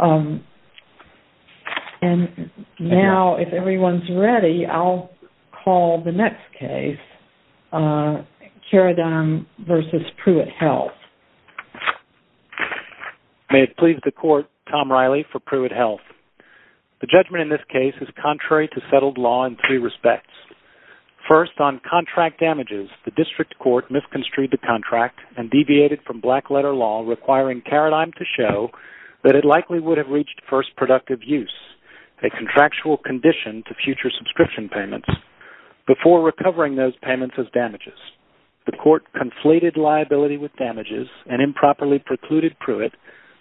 And now, if everyone's ready, I'll call the next case, Caradigm v. PruittHealth. May it please the Court, Tom Riley for PruittHealth. The judgment in this case is contrary to settled law in three respects. First, on contract damages, the District Court misconstrued the contract and deviated from black-letter law requiring Caradigm to show that it likely would have reached first productive use, a contractual condition to future subscription payments, before recovering those payments as damages. The Court conflated liability with damages and improperly precluded Pruitt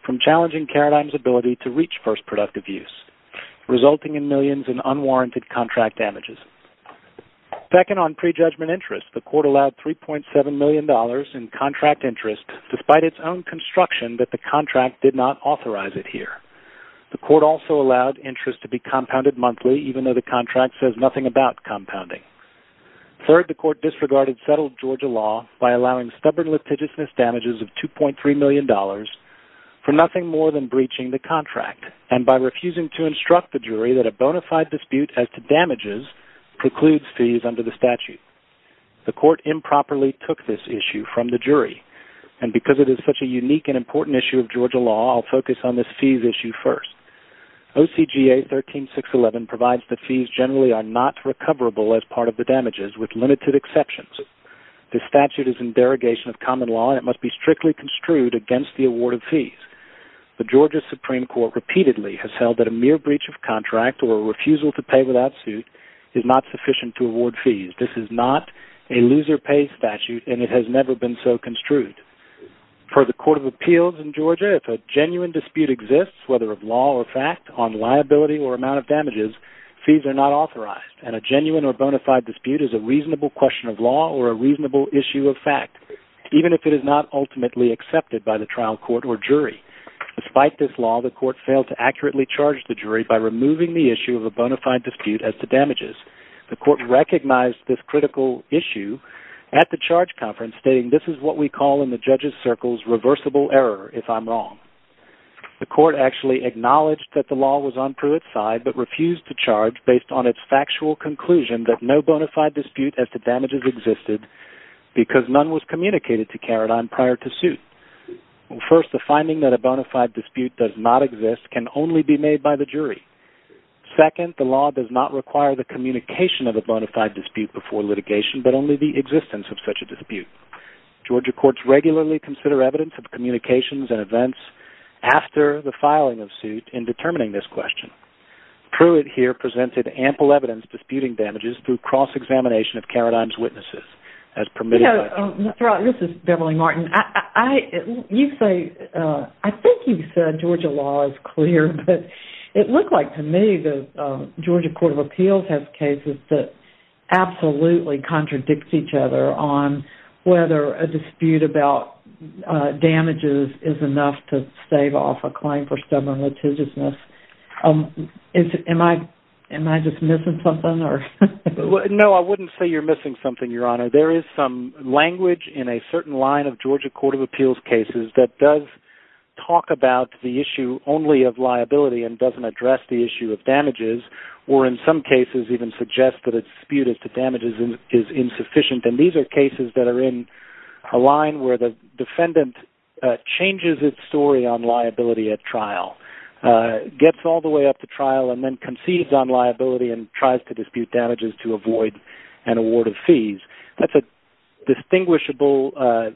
from challenging Caradigm's ability to reach first productive use, resulting in millions in unwarranted contract damages. Second, on prejudgment interest, the Court allowed $3.7 million in contract interest despite its own construction that the contract did not authorize it here. The Court also allowed interest to be compounded monthly, even though the contract says nothing about compounding. Third, the Court disregarded settled Georgia law by allowing stubborn litigiousness damages of $2.3 million for nothing more than breaching the contract, and by refusing to instruct the jury that a bona fide dispute as to damages precludes fees under the statute. The Court improperly took this issue from the jury, and because it is such a unique and important issue of Georgia law, I'll focus on this fees issue first. OCGA 13611 provides that fees generally are not recoverable as part of the damages, with limited exceptions. This statute is in derogation of common law, and it must be strictly construed against the award of fees. The Georgia Supreme Court repeatedly has held that a mere breach of contract or refusal to pay without suit is not sufficient to award fees. This is not a loser-pays statute, and it has never been so construed. For the Court of Appeals in Georgia, if a genuine dispute exists, whether of law or fact, on liability or amount of damages, fees are not authorized, and a genuine or bona fide dispute is a reasonable question of law or a reasonable issue of fact, even if it is not ultimately accepted by the trial court or jury. Despite this law, the Court failed to accurately charge the jury by removing the issue of a bona fide dispute as to damages. The Court recognized this critical issue at the charge conference, stating this is what we call in the judges' circles reversible error, if I'm wrong. The Court actually acknowledged that the law was on Pruitt's side, but refused to charge based on its factual conclusion that no bona fide dispute as to damages existed because none was communicated to Carradine prior to suit. First, the finding that a bona fide dispute does not exist can only be made by the jury. Second, the law does not require the communication of a bona fide dispute before litigation, but only the existence of such a dispute. Georgia courts regularly consider evidence of communications and events after the filing of suit in determining this question. Pruitt here presented ample evidence disputing damages through cross-examination of Carradine's witnesses. This is Beverly Martin. I think you said Georgia law is clear, but it looked like to me the Georgia Court of Appeals has cases that absolutely contradict each other on whether a dispute about damages is enough to stave off a claim for stubborn litigiousness. Am I just missing something? No, I wouldn't say you're missing something, Your Honor. There is some language in a certain line of Georgia Court of Appeals cases that does talk about the issue only of liability and doesn't address the issue of damages, or in some cases even suggests that a dispute as to damages is insufficient. And these are cases that are in a line where the defendant changes its story on liability at trial, gets all the way up to trial and then concedes on liability and tries to dispute damages to avoid an award of fees. That's a distinguishable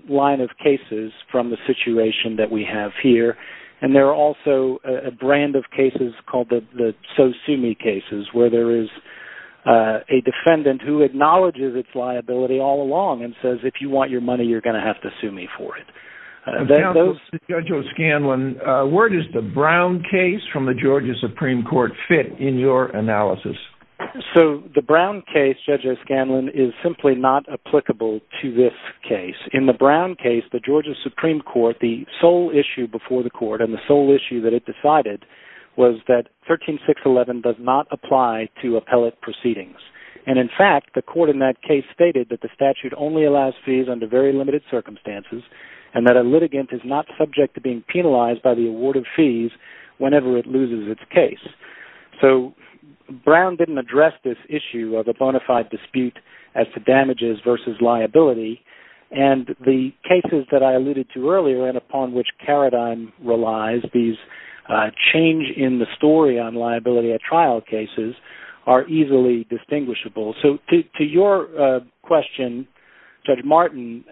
line of cases from the situation that we have here. And there are also a brand of cases called the so-sue-me cases, where there is a defendant who acknowledges its liability all along and says, if you want your money, you're going to have to sue me for it. Counsel, Judge O'Scanlan, where does the Brown case from the Georgia Supreme Court fit in your analysis? So the Brown case, Judge O'Scanlan, is simply not applicable to this case. In the Brown case, the Georgia Supreme Court, the sole issue before the court and the sole issue that it decided was that 13611 does not apply to appellate proceedings. And in fact, the court in that case stated that the statute only allows fees under very limited circumstances and that a litigant is not subject to being penalized by the award of fees whenever it loses its case. So Brown didn't address this issue of a bona fide dispute as to damages versus liability. And the cases that I alluded to earlier and upon which Karadine relies, these change in the story on liability at trial cases are easily distinguishable. So to your question, Judge Martin,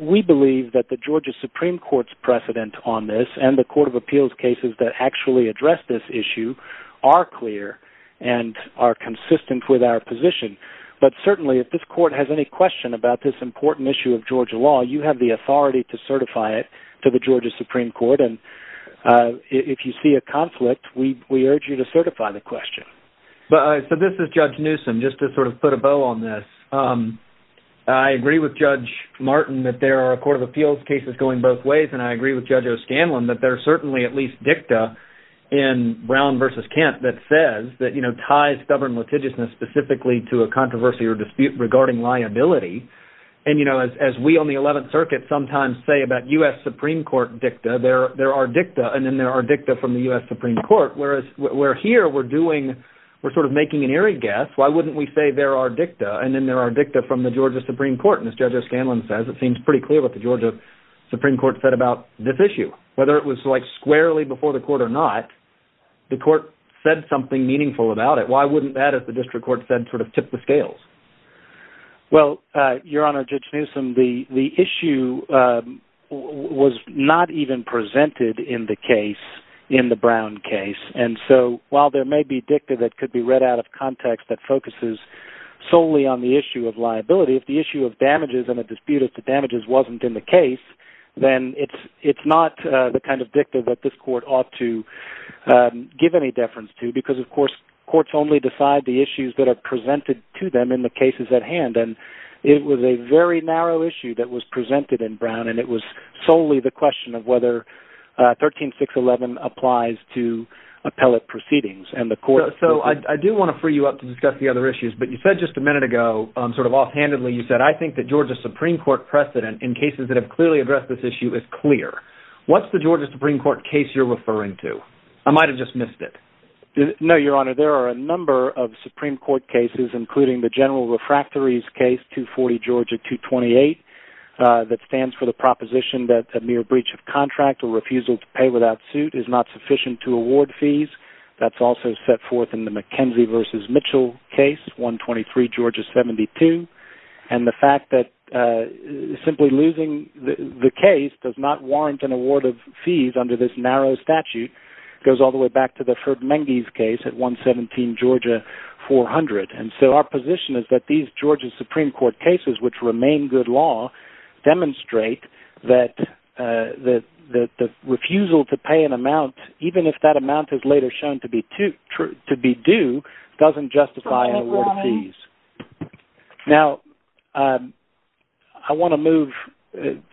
we believe that the Georgia Supreme Court's precedent on this and the Court of Appeals cases that actually address this issue are clear and are consistent with our position. But certainly if this court has any question about this important issue of Georgia law, you have the authority to certify it to the Georgia Supreme Court. And if you see a conflict, we urge you to certify the question. So this is Judge Newsom. Just to sort of put a bow on this, I agree with Judge Martin that there are Court of Appeals cases going both ways and I agree with Judge O'Scanlan that there are certainly at least dicta in Brown v. Kent that says that, you know, ties stubborn litigiousness specifically to a controversy or dispute regarding liability. And, you know, as we on the 11th Circuit sometimes say about U.S. Supreme Court dicta, there are dicta and then there are dicta from the U.S. Supreme Court, whereas here we're sort of making an eerie guess. Why wouldn't we say there are dicta and then there are dicta from the Georgia Supreme Court? And as Judge O'Scanlan says, it seems pretty clear what the Georgia Supreme Court said about this issue. Whether it was like squarely before the court or not, the court said something meaningful about it. Why wouldn't that, as the district court said, sort of tip the scales? Well, Your Honor, Judge Newsom, the issue was not even presented in the case, in the Brown case. And so while there may be dicta that could be read out of context that focuses solely on the issue of liability, if the issue of damages and the dispute of the damages wasn't in the case, then it's not the kind of dicta that this court ought to give any deference to because, of course, courts only decide the issues that are presented to them in the cases at hand. And it was a very narrow issue that was presented in Brown, and it was solely the question of whether 13611 applies to appellate proceedings. So I do want to free you up to discuss the other issues, but you said just a minute ago, sort of offhandedly, you said, I think the Georgia Supreme Court precedent in cases that have clearly addressed this issue is clear. What's the Georgia Supreme Court case you're referring to? I might have just missed it. No, Your Honor, there are a number of Supreme Court cases, including the General Refractories case, 240 Georgia 228, that stands for the proposition that a mere breach of contract or refusal to pay without suit is not sufficient to award fees. That's also set forth in the McKenzie v. Mitchell case, 123 Georgia 72. And the fact that simply losing the case does not warrant an award of fees under this narrow statute goes all the way back to the Ferdmenge's case at 117 Georgia 400. And so our position is that these Georgia Supreme Court cases, which remain good law, demonstrate that the refusal to pay an amount, even if that amount is later shown to be due, doesn't justify an award of fees. Now, I want to move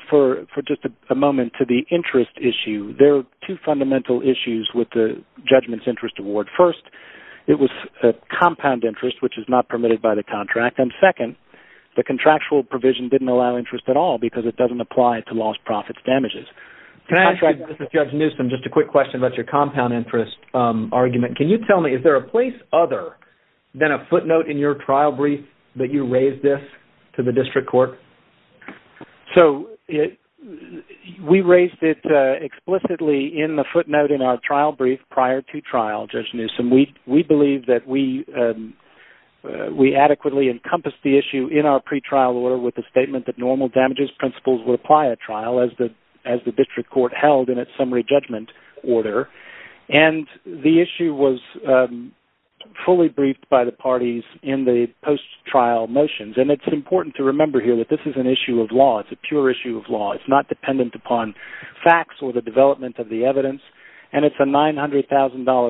for just a moment to the interest issue. There are two fundamental issues with the Judgment's Interest Award. First, it was compound interest, which is not permitted by the contract. And second, the contractual provision didn't allow interest at all because it doesn't apply to lost profits damages. Can I ask you, Judge Newsom, just a quick question about your compound interest argument? Can you tell me, is there a place other than a footnote in your trial brief that you raised this to the district court? So we raised it explicitly in the footnote in our trial brief prior to trial, Judge Newsom. We believe that we adequately encompassed the issue in our pretrial order with the statement that normal damages principles would apply at trial as the district court held in its summary judgment order. And the issue was fully briefed by the parties in the post-trial motions. And it's important to remember here that this is an issue of law. It's a pure issue of law. It's not dependent upon facts or the development of the evidence. And it's a $900,000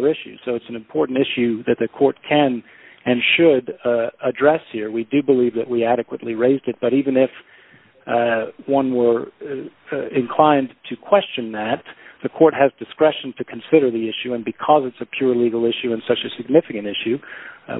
issue. So it's an important issue that the court can and should address here. We do believe that we adequately raised it. But even if one were inclined to question that, the court has discretion to consider the issue. And because it's a pure legal issue and such a significant issue,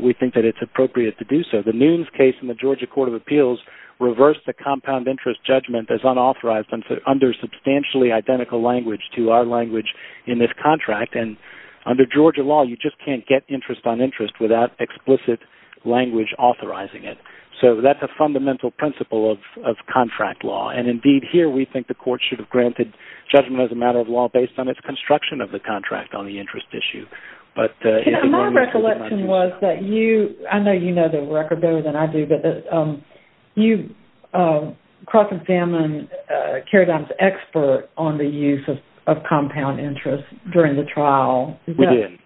we think that it's appropriate to do so. The Nunes case in the Georgia Court of Appeals reversed the compound interest judgment as unauthorized under substantially identical language to our language in this contract. And under Georgia law, you just can't get interest on interest without explicit language authorizing it. So that's a fundamental principle of contract law. And, indeed, here we think the court should have granted judgment as a matter of law based on its construction of the contract on the interest issue. My recollection was that you, I know you know the record better than I do, but you cross-examined Kerry Dimes' expert on the use of compound interest during the trial. We did.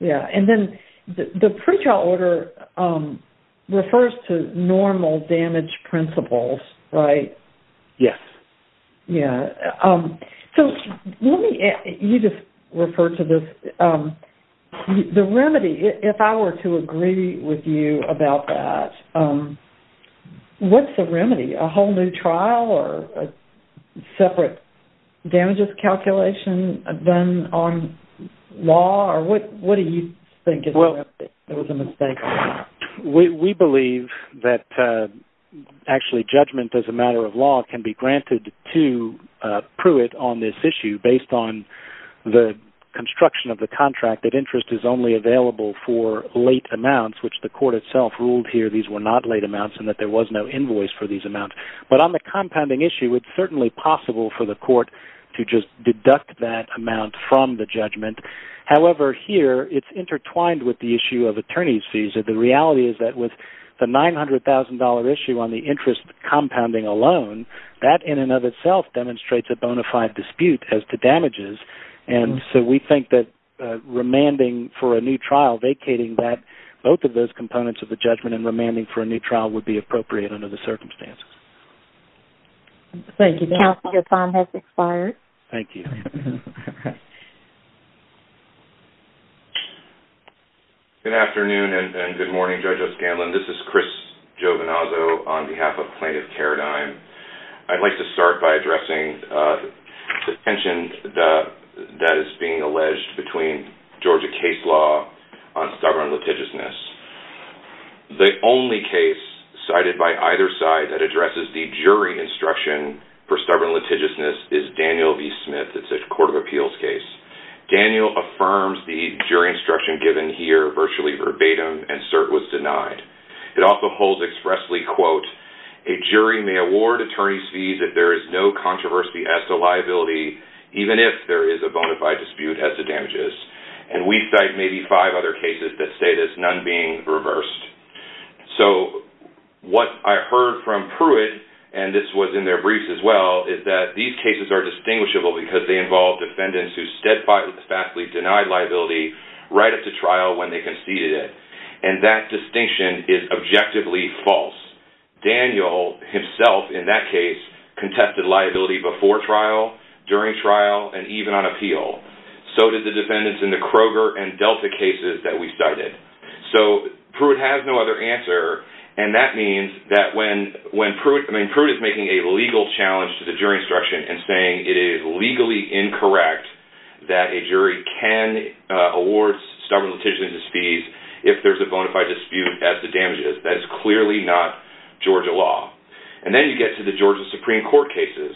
Yeah. And then the pretrial order refers to normal damage principles, right? Yes. Yeah. So let me, you just referred to this. The remedy, if I were to agree with you about that, what's the remedy? A whole new trial or a separate damages calculation done on law? Or what do you think is the remedy? There was a mistake. We believe that actually judgment as a matter of law can be granted to Pruitt on this issue based on the construction of the contract that interest is only available for late amounts, which the court itself ruled here these were not late amounts and that there was no invoice for these amounts. But on the compounding issue, it's certainly possible for the court to just deduct that amount from the judgment. However, here it's intertwined with the issue of attorney's fees. The reality is that with the $900,000 issue on the interest compounding alone, that in and of itself demonstrates a bona fide dispute as to damages. And so we think that remanding for a new trial, vacating both of those components of the judgment and remanding for a new trial would be appropriate under the circumstances. Thank you. Counsel, your time has expired. Thank you. Good afternoon and good morning, Judge O'Scanlan. This is Chris Giovinazzo on behalf of Plaintiff Paradigm. I'd like to start by addressing the tension that is being alleged between Georgia case law on stubborn litigiousness. The only case cited by either side that addresses the jury instruction for stubborn litigiousness is Daniel v. Smith. It's a court of appeals case. Daniel affirms the jury instruction given here virtually verbatim and cert was denied. It also holds expressly, quote, a jury may award attorney's fees if there is no controversy as to liability, even if there is a bona fide dispute as to damages. And we cite maybe five other cases that state as none being reversed. So what I heard from Pruitt, and this was in their briefs as well, is that these cases are distinguishable because they involve defendants who steadfastly denied liability right up to trial when they conceded it. And that distinction is objectively false. Daniel himself in that case contested liability before trial, during trial, and even on appeal. So did the defendants in the Kroger and Delta cases that we cited. So Pruitt has no other answer, and that means that when Pruitt is making a legal challenge to the jury instruction and saying it is legally incorrect that a jury can award stubborn litigiousness fees if there is a bona fide dispute as to damages, that is clearly not Georgia law. And then you get to the Georgia Supreme Court cases.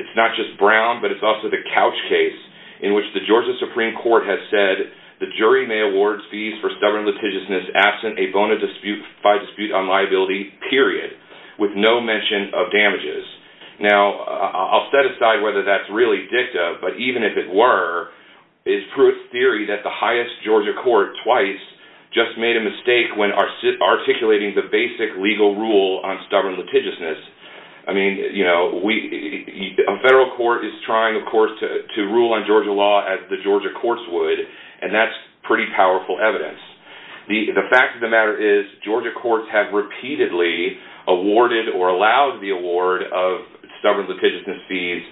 It's not just Brown, but it's also the Couch case in which the Georgia Supreme Court has said the jury may award fees for stubborn litigiousness absent a bona fide dispute on liability, period, with no mention of damages. Now, I'll set aside whether that's really dicta, but even if it were, it's Pruitt's theory that the highest Georgia court twice just made a mistake when articulating the basic legal rule on stubborn litigiousness. I mean, you know, a federal court is trying, of course, to rule on Georgia law as the Georgia courts would, and that's pretty powerful evidence. The fact of the matter is Georgia courts have repeatedly awarded or allowed the award of stubborn litigiousness fees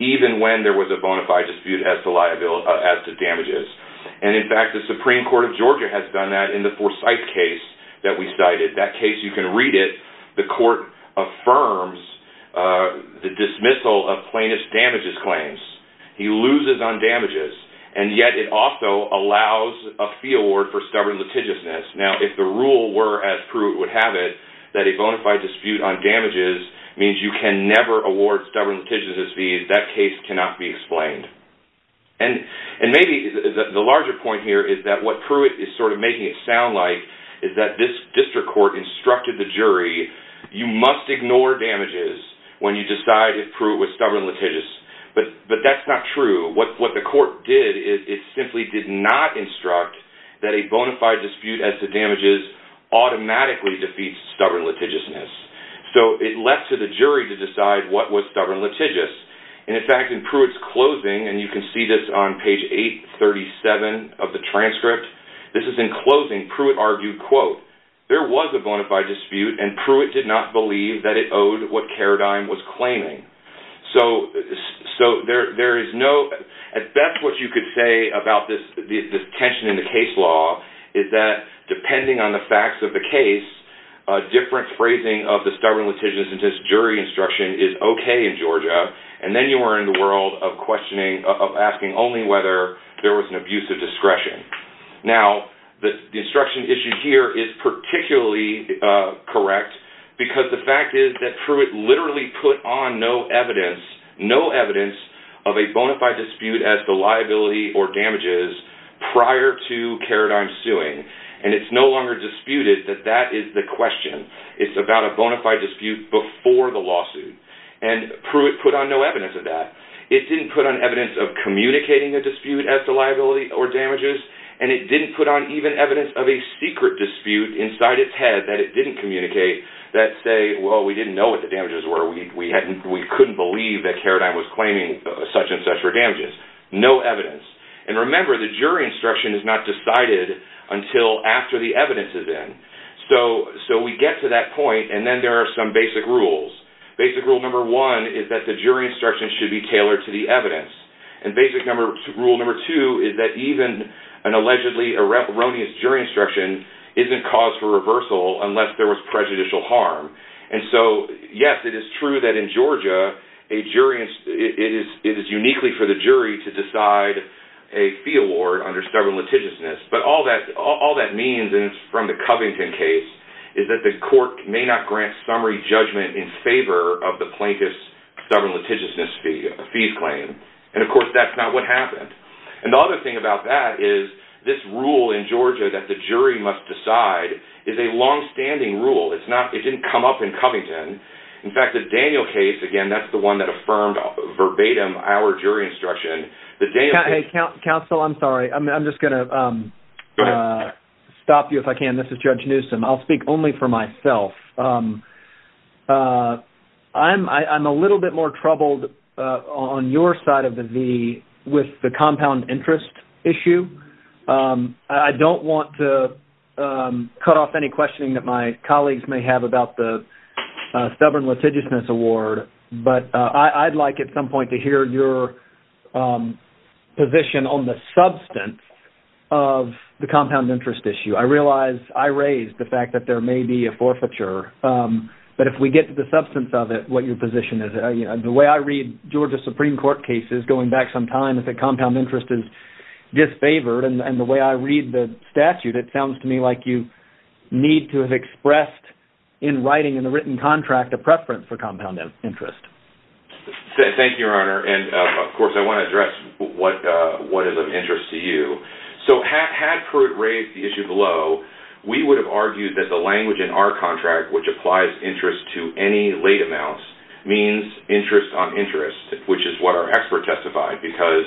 even when there was a bona fide dispute as to damages. And, in fact, the Supreme Court of Georgia has done that in the Forsyth case that we cited. That case, you can read it. The court affirms the dismissal of plaintiff's damages claims. He loses on damages, and yet it also allows a fee award for stubborn litigiousness. Now, if the rule were, as Pruitt would have it, that a bona fide dispute on damages means you can never award stubborn litigiousness fees, that case cannot be explained. And maybe the larger point here is that what Pruitt is sort of making it sound like is that this district court instructed the jury, you must ignore damages when you decide if Pruitt was stubborn litigious, but that's not true. What the court did is it simply did not instruct that a bona fide dispute as to damages automatically defeats stubborn litigiousness. So it left to the jury to decide what was stubborn litigious. And, in fact, in Pruitt's closing, and you can see this on page 837 of the transcript, this is in closing. Pruitt argued, quote, there was a bona fide dispute, and Pruitt did not believe that it owed what Carradine was claiming. So there is no, at best what you could say about this tension in the case law is that depending on the facts of the case, a different phrasing of the stubborn litigiousness jury instruction is okay in Georgia, and then you are in the world of questioning, of asking only whether there was an abuse of discretion. Now, the instruction issued here is particularly correct because the fact is that Pruitt literally put on no evidence, no evidence of a bona fide dispute as to liability or damages prior to Carradine's suing, and it's no longer disputed that that is the question. It's about a bona fide dispute before the lawsuit, and Pruitt put on no evidence of that. It didn't put on evidence of communicating a dispute as to liability or damages, and it didn't put on even evidence of a secret dispute inside its head that it didn't communicate that say, well, we didn't know what the damages were, we couldn't believe that Carradine was claiming such and such for damages. No evidence. And remember, the jury instruction is not decided until after the evidence is in. So we get to that point, and then there are some basic rules. Basic rule number one is that the jury instruction should be tailored to the evidence, and basic rule number two is that even an allegedly erroneous jury instruction isn't cause for reversal unless there was prejudicial harm. And so, yes, it is true that in Georgia, it is uniquely for the jury to decide a fee award under stubborn litigiousness, but all that means, and it's from the Covington case, is that the court may not grant summary judgment in favor of the plaintiff's stubborn litigiousness fees claim. And, of course, that's not what happened. And the other thing about that is this rule in Georgia that the jury must decide is a longstanding rule. It didn't come up in Covington. In fact, the Daniel case, again, that's the one that affirmed verbatim our jury instruction. Counsel, I'm sorry. I'm just going to stop you if I can. This is Judge Newsom. I'll speak only for myself. I'm a little bit more troubled on your side of the V with the compound interest issue. I don't want to cut off any questioning that my colleagues may have about the stubborn litigiousness award, but I'd like at some point to hear your position on the substance of the compound interest issue. I realize I raised the fact that there may be a forfeiture, but if we get to the substance of it, what your position is. The way I read Georgia Supreme Court cases going back some time is that compound interest is disfavored, and the way I read the statute, it sounds to me like you need to have expressed in writing in the written contract a preference for compound interest. Thank you, Your Honor. Of course, I want to address what is of interest to you. Had Pruitt raised the issue below, we would have argued that the language in our contract, which applies interest to any late amounts, means interest on interest, which is what our expert testified, because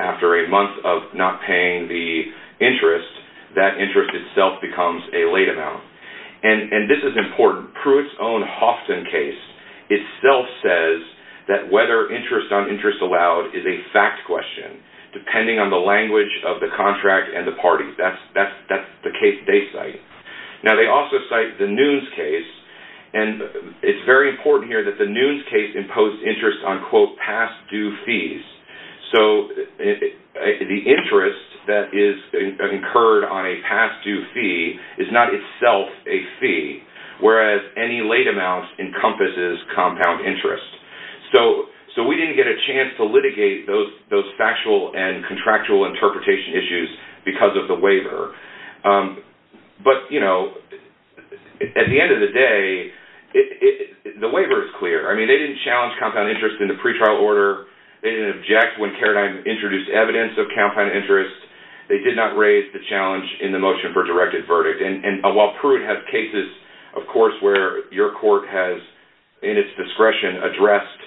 after a month of not paying the interest, that interest itself becomes a late amount. This is important. Pruitt's own Hofton case itself says that whether interest on interest allowed is a fact question, depending on the language of the contract and the party. That's the case they cite. They also cite the Nunes case. It's very important here that the Nunes case imposed interest on, quote, past due fees. So the interest that is incurred on a past due fee is not itself a fee, whereas any late amount encompasses compound interest. So we didn't get a chance to litigate those factual and contractual interpretation issues because of the waiver. But, you know, at the end of the day, the waiver is clear. I mean, they didn't challenge compound interest in the pretrial order. They didn't object when Carradine introduced evidence of compound interest. They did not raise the challenge in the motion for directed verdict. And while Pruitt has cases, of course, where your court has, in its discretion, addressed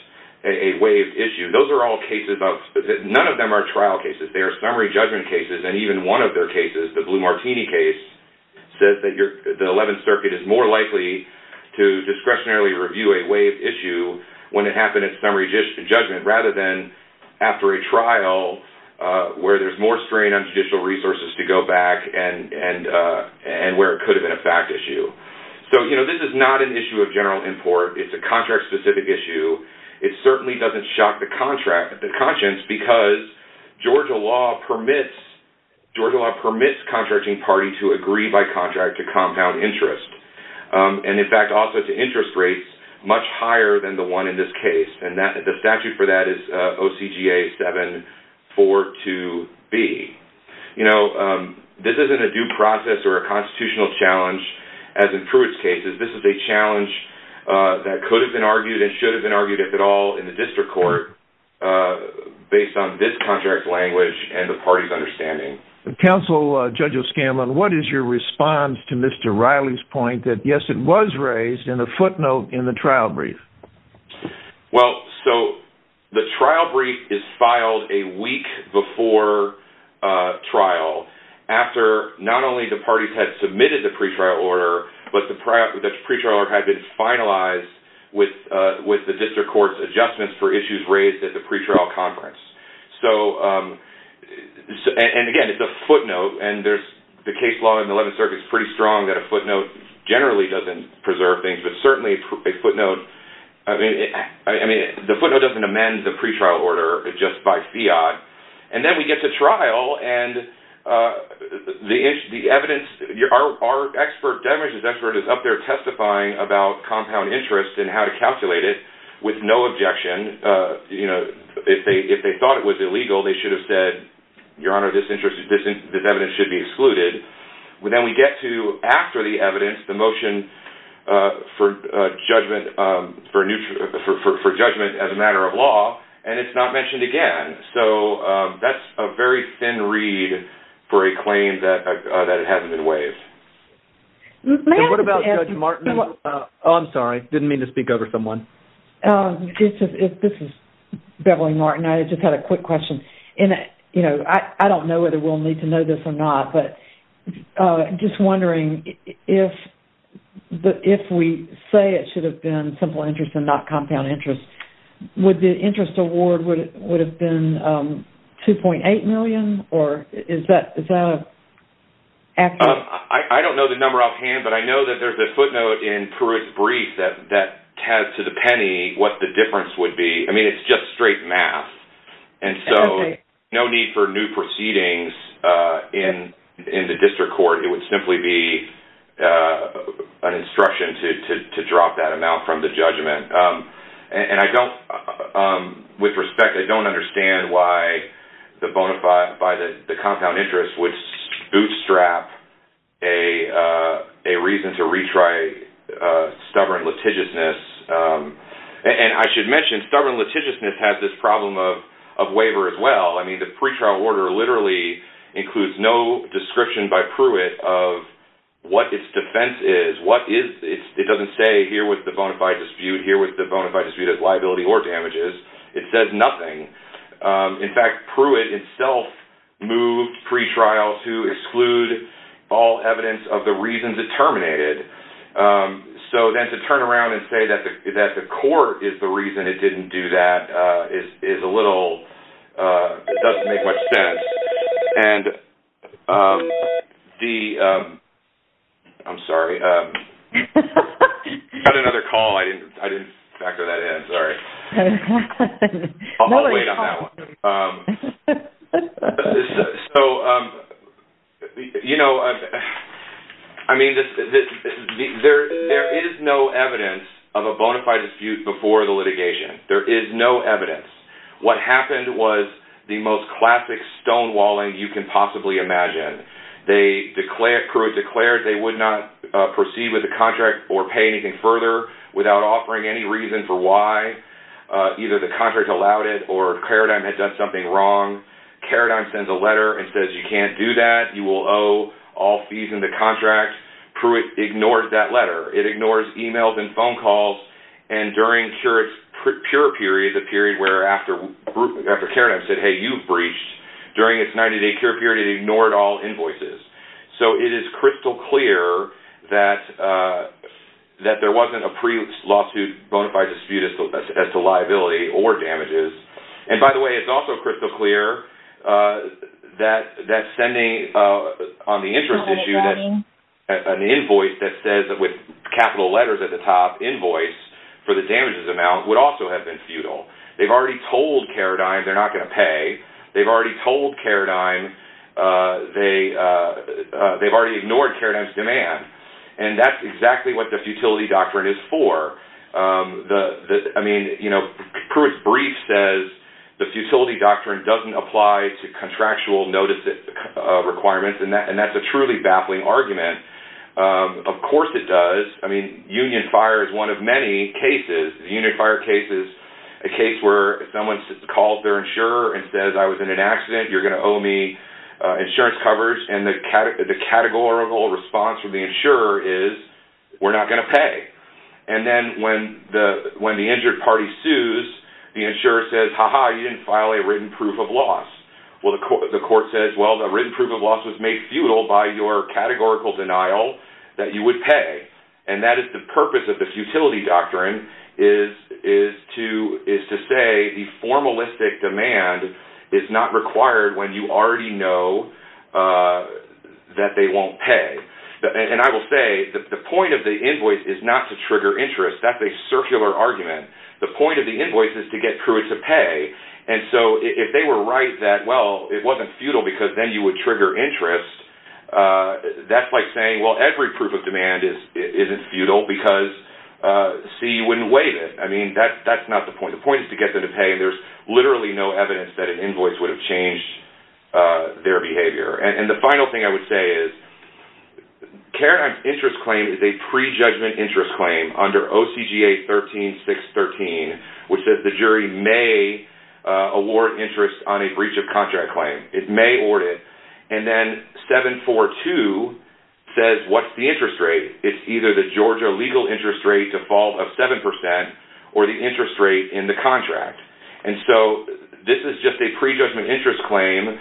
a waived issue, those are all cases that none of them are trial cases. They are summary judgment cases, and even one of their cases, the Blue Martini case, says that the Eleventh Circuit is more likely to discretionarily review a waived issue when it happened in summary judgment rather than after a trial where there's more strain on judicial resources to go back and where it could have been a fact issue. So, you know, this is not an issue of general import. It's a contract-specific issue. It certainly doesn't shock the conscience because Georgia law permits contracting parties to agree by contract to compound interest. And, in fact, also to interest rates much higher than the one in this case. And the statute for that is OCGA 742B. You know, this isn't a due process or a constitutional challenge, as in Pruitt's case. This is a challenge that could have been argued and should have been argued, if at all, in the district court, based on this contract language and the party's understanding. Counsel, Judge O'Scanlan, what is your response to Mr. Riley's point that, yes, it was raised in the footnote in the trial brief? Well, so the trial brief is filed a week before trial, after not only the parties had submitted the pretrial order, but the pretrial order had been finalized with the district court's adjustments for issues raised at the pretrial conference. So, and again, it's a footnote, and there's the case law in the 11th Circuit is pretty strong that a footnote generally doesn't preserve things, but certainly a footnote, I mean, the footnote doesn't amend the pretrial order just by fiat. And then we get to trial, and the evidence, our expert, Devin Rich's expert, is up there testifying about compound interest and how to calculate it with no objection. You know, if they thought it was illegal, they should have said, Your Honor, this evidence should be excluded. Then we get to, after the evidence, the motion for judgment as a matter of law, and it's not mentioned again. So that's a very thin reed for a claim that it hasn't been waived. May I just ask- What about Judge Martin? Oh, I'm sorry. Didn't mean to speak over someone. This is Beverly Martin. I just had a quick question. And, you know, I don't know whether we'll need to know this or not, but just wondering if we say it should have been simple interest and not compound interest, would the interest award would have been $2.8 million? Or is that an accurate- I don't know the number offhand, but I know that there's a footnote in Pruitt's brief that has to the penny what the difference would be. I mean, it's just straight math. And so no need for new proceedings in the district court. It would simply be an instruction to drop that amount from the judgment. And with respect, I don't understand why the compound interest would bootstrap a reason to retry stubborn litigiousness. And I should mention stubborn litigiousness has this problem of waiver as well. I mean, the pretrial order literally includes no description by Pruitt of what its defense is. It doesn't say here with the bona fide dispute, here with the bona fide dispute of liability or damages. It says nothing. In fact, Pruitt itself moved pretrial to exclude all evidence of the reasons it terminated. So then to turn around and say that the court is the reason it didn't do that is a little-it doesn't make much sense. And the-I'm sorry. You had another call. I didn't factor that in. Sorry. I'll wait on that one. So, you know, I mean, there is no evidence of a bona fide dispute before the litigation. There is no evidence. What happened was the most classic stonewalling you can possibly imagine. They declared-Pruitt declared they would not proceed with the contract or pay anything further without offering any reason for why. Either the contract allowed it or Karadime had done something wrong. Karadime sends a letter and says you can't do that. You will owe all fees in the contract. Pruitt ignores that letter. It ignores emails and phone calls. And during Pruitt's pure period, the period where after Karadime said, hey, you breached, during its 90-day pure period it ignored all invoices. So it is crystal clear that there wasn't a pre-lawsuit bona fide dispute as to liability or damages. And by the way, it's also crystal clear that sending on the interest issue that an invoice that says with capital letters at the top, invoice for the damages amount would also have been futile. They've already told Karadime they're not going to pay. They've already told Karadime they've already ignored Karadime's demand. And that's exactly what the futility doctrine is for. I mean, you know, Pruitt's brief says the futility doctrine doesn't apply to contractual notice requirements, and that's a truly baffling argument. Of course it does. I mean, union fire is one of many cases. Union fire case is a case where someone calls their insurer and says I was in an accident. You're going to owe me insurance coverage. And the categorical response from the insurer is we're not going to pay. And then when the injured party sues, the insurer says, ha-ha, you didn't file a written proof of loss. Well, the court says, well, the written proof of loss was made futile by your categorical denial that you would pay. And that is the purpose of the futility doctrine is to say the formalistic demand is not required when you already know that they won't pay. And I will say the point of the invoice is not to trigger interest. That's a circular argument. The point of the invoice is to get Pruitt to pay. And so if they were right that, well, it wasn't futile because then you would trigger interest, that's like saying, well, every proof of demand isn't futile because, C, you wouldn't waive it. I mean, that's not the point. The point is to get them to pay, and there's literally no evidence that an invoice would have changed their behavior. And the final thing I would say is Karatime's interest claim is a prejudgment interest claim under OCGA 13613, which says the jury may award interest on a breach of contract claim. It may award it. And then 742 says what's the interest rate? It's either the Georgia legal interest rate default of 7% or the interest rate in the contract. And so this is just a prejudgment interest claim.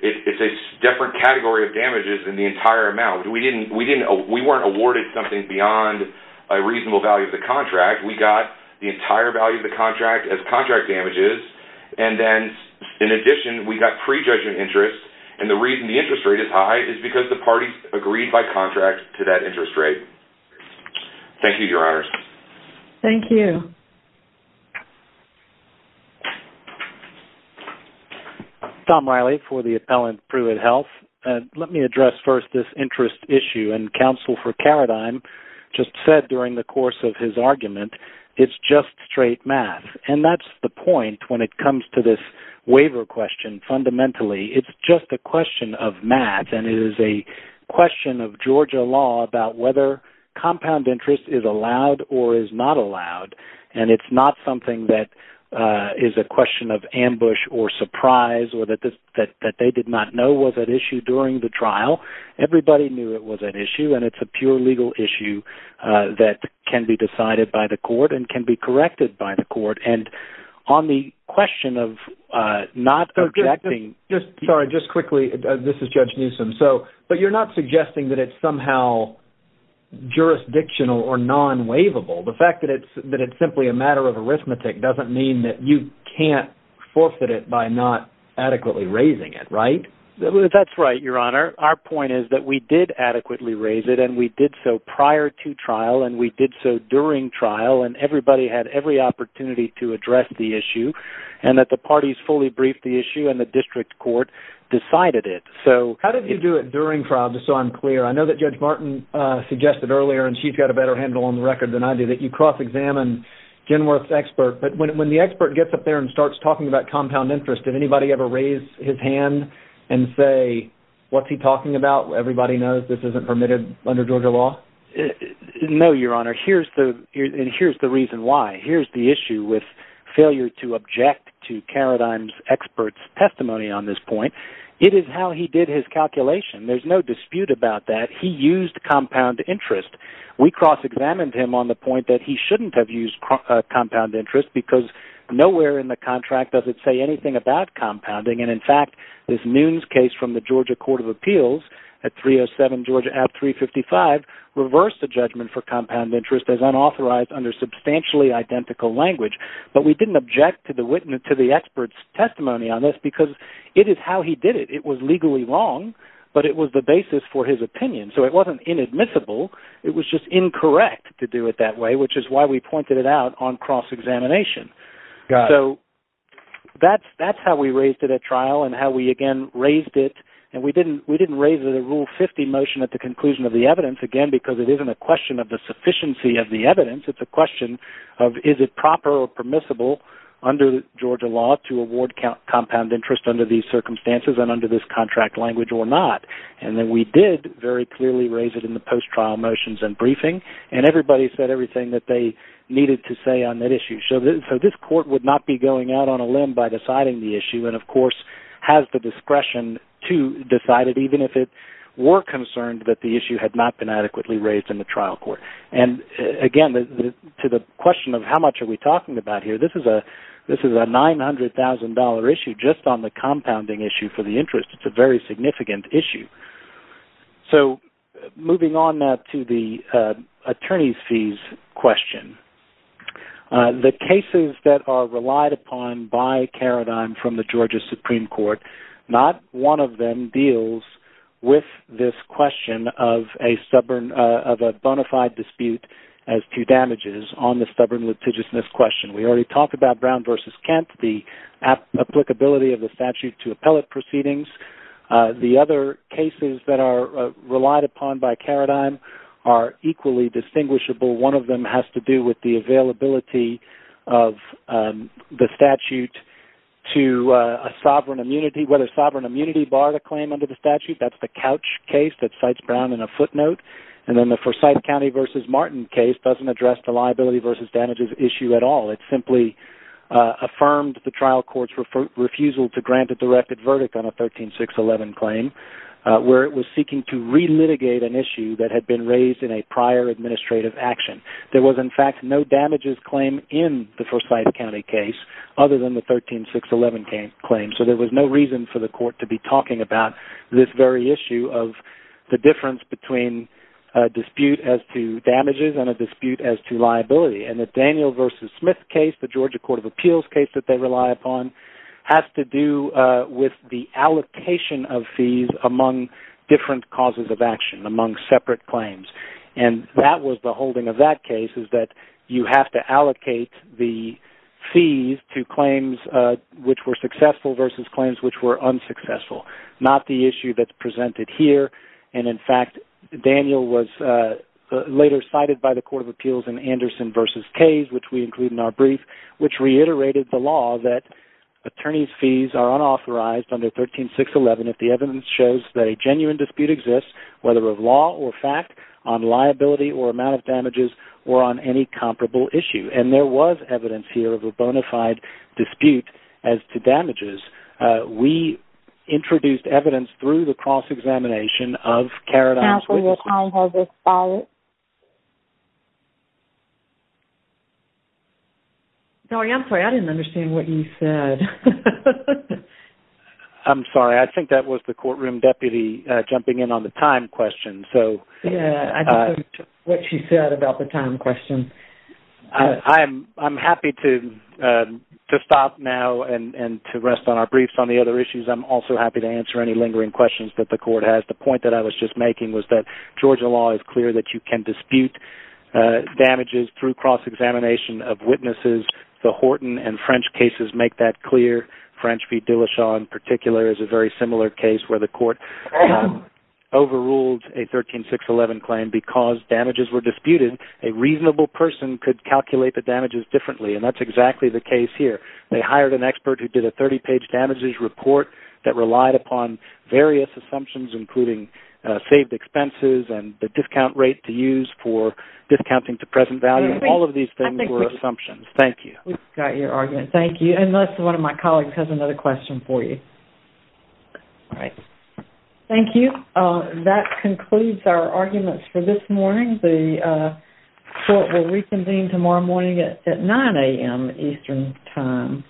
It's a different category of damages than the entire amount. We weren't awarded something beyond a reasonable value of the contract. We got the entire value of the contract as contract damages. And then, in addition, we got prejudgment interest. And the reason the interest rate is high is because the parties agreed by contract to that interest rate. Thank you, Your Honors. Thank you. Tom Riley for the appellant, Pruitt Health. Let me address first this interest issue. And counsel for Karatime just said during the course of his argument, it's just straight math. And that's the point when it comes to this waiver question. Fundamentally, it's just a question of math, and it is a question of Georgia law about whether compound interest is allowed or is not allowed. And it's not something that is a question of ambush or surprise or that they did not know was at issue during the trial. Everybody knew it was an issue, and it's a pure legal issue that can be decided by the court and can be corrected by the court. And on the question of not objecting... Sorry, just quickly, this is Judge Newsom. So, but you're not suggesting that it's somehow jurisdictional or non-waivable. The fact that it's simply a matter of arithmetic doesn't mean that you can't forfeit it by not adequately raising it, right? That's right, Your Honor. Our point is that we did adequately raise it, and we did so prior to trial, and we did so during trial. And everybody had every opportunity to address the issue, and that the parties fully briefed the issue, and the district court decided it. So, how did you do it during trial, just so I'm clear? I know that Judge Martin suggested earlier, and she's got a better handle on the record than I do, that you cross-examine Genworth's expert. But when the expert gets up there and starts talking about compound interest, did anybody ever raise his hand and say, what's he talking about? Everybody knows this isn't permitted under Georgia law. No, Your Honor. And here's the reason why. Here's the issue with failure to object to Carradine's expert's testimony on this point. It is how he did his calculation. There's no dispute about that. He used compound interest. We cross-examined him on the point that he shouldn't have used compound interest, because nowhere in the contract does it say anything about compounding. And, in fact, this Nunes case from the Georgia Court of Appeals at 307 Georgia, at 355, reversed the judgment for compound interest as unauthorized under substantially identical language. But we didn't object to the expert's testimony on this, because it is how he did it. It was legally wrong, but it was the basis for his opinion. So it wasn't inadmissible. It was just incorrect to do it that way, which is why we pointed it out on cross-examination. So that's how we raised it at trial and how we, again, raised it. And we didn't raise the Rule 50 motion at the conclusion of the evidence, again, because it isn't a question of the sufficiency of the evidence. It's a question of is it proper or permissible under Georgia law to award compound interest under these circumstances and under this contract language or not. And then we did very clearly raise it in the post-trial motions and briefing, and everybody said everything that they needed to say on that issue. So this court would not be going out on a limb by deciding the issue and, of course, has the discretion to decide it, even if it were concerned that the issue had not been adequately raised in the trial court. And, again, to the question of how much are we talking about here, this is a $900,000 issue just on the compounding issue for the interest. It's a very significant issue. So moving on now to the attorney's fees question. The cases that are relied upon by Karadime from the Georgia Supreme Court, not one of them deals with this question of a bona fide dispute as to damages on the stubborn litigiousness question. We already talked about Brown v. Kent, the applicability of the statute to appellate proceedings. The other cases that are relied upon by Karadime are equally distinguishable. One of them has to do with the availability of the statute to a sovereign immunity, whether sovereign immunity barred a claim under the statute. That's the Couch case that cites Brown in a footnote. And then the Forsyth County v. Martin case doesn't address the liability v. damages issue at all. It simply affirmed the trial court's refusal to grant a directed verdict on a 13611 claim where it was seeking to re-litigate an issue that had been raised in a prior administrative action. There was, in fact, no damages claim in the Forsyth County case other than the 13611 claim. So there was no reason for the court to be talking about this very issue of the difference between a dispute as to damages and a dispute as to liability. And the Daniel v. Smith case, the Georgia Court of Appeals case that they rely upon, has to do with the allocation of fees among different causes of action, among separate claims. And that was the holding of that case is that you have to allocate the fees to claims which were successful v. claims which were unsuccessful, not the issue that's presented here. And, in fact, Daniel was later cited by the Court of Appeals in Anderson v. Case, which we include in our brief, which reiterated the law that attorneys' fees are unauthorized under 13611 if the evidence shows that a genuine dispute exists, whether of law or fact, on liability or amount of damages, or on any comparable issue. And there was evidence here of a bona fide dispute as to damages. We introduced evidence through the cross-examination of Carradine v. Smith. Counsel, your time has expired. Sorry, I'm sorry. I didn't understand what you said. I'm sorry. I think that was the courtroom deputy jumping in on the time question. Yeah, I don't know what she said about the time question. I'm happy to stop now and to rest on our briefs on the other issues. I'm also happy to answer any lingering questions that the Court has. The point that I was just making was that Georgia law is clear that you can dispute damages through cross-examination of witnesses. The Horton and French cases make that clear. French v. Duleshaw, in particular, is a very similar case where the Court overruled a 13611 claim because damages were disputed. A reasonable person could calculate the damages differently, and that's exactly the case here. They hired an expert who did a 30-page damages report that relied upon various assumptions, including saved expenses and the discount rate to use for discounting to present value. All of these things were assumptions. Thank you. We've got your argument. Thank you. Unless one of my colleagues has another question for you. All right. Thank you. That concludes our arguments for this morning. The Court will reconvene tomorrow morning at 9 a.m. Eastern Time.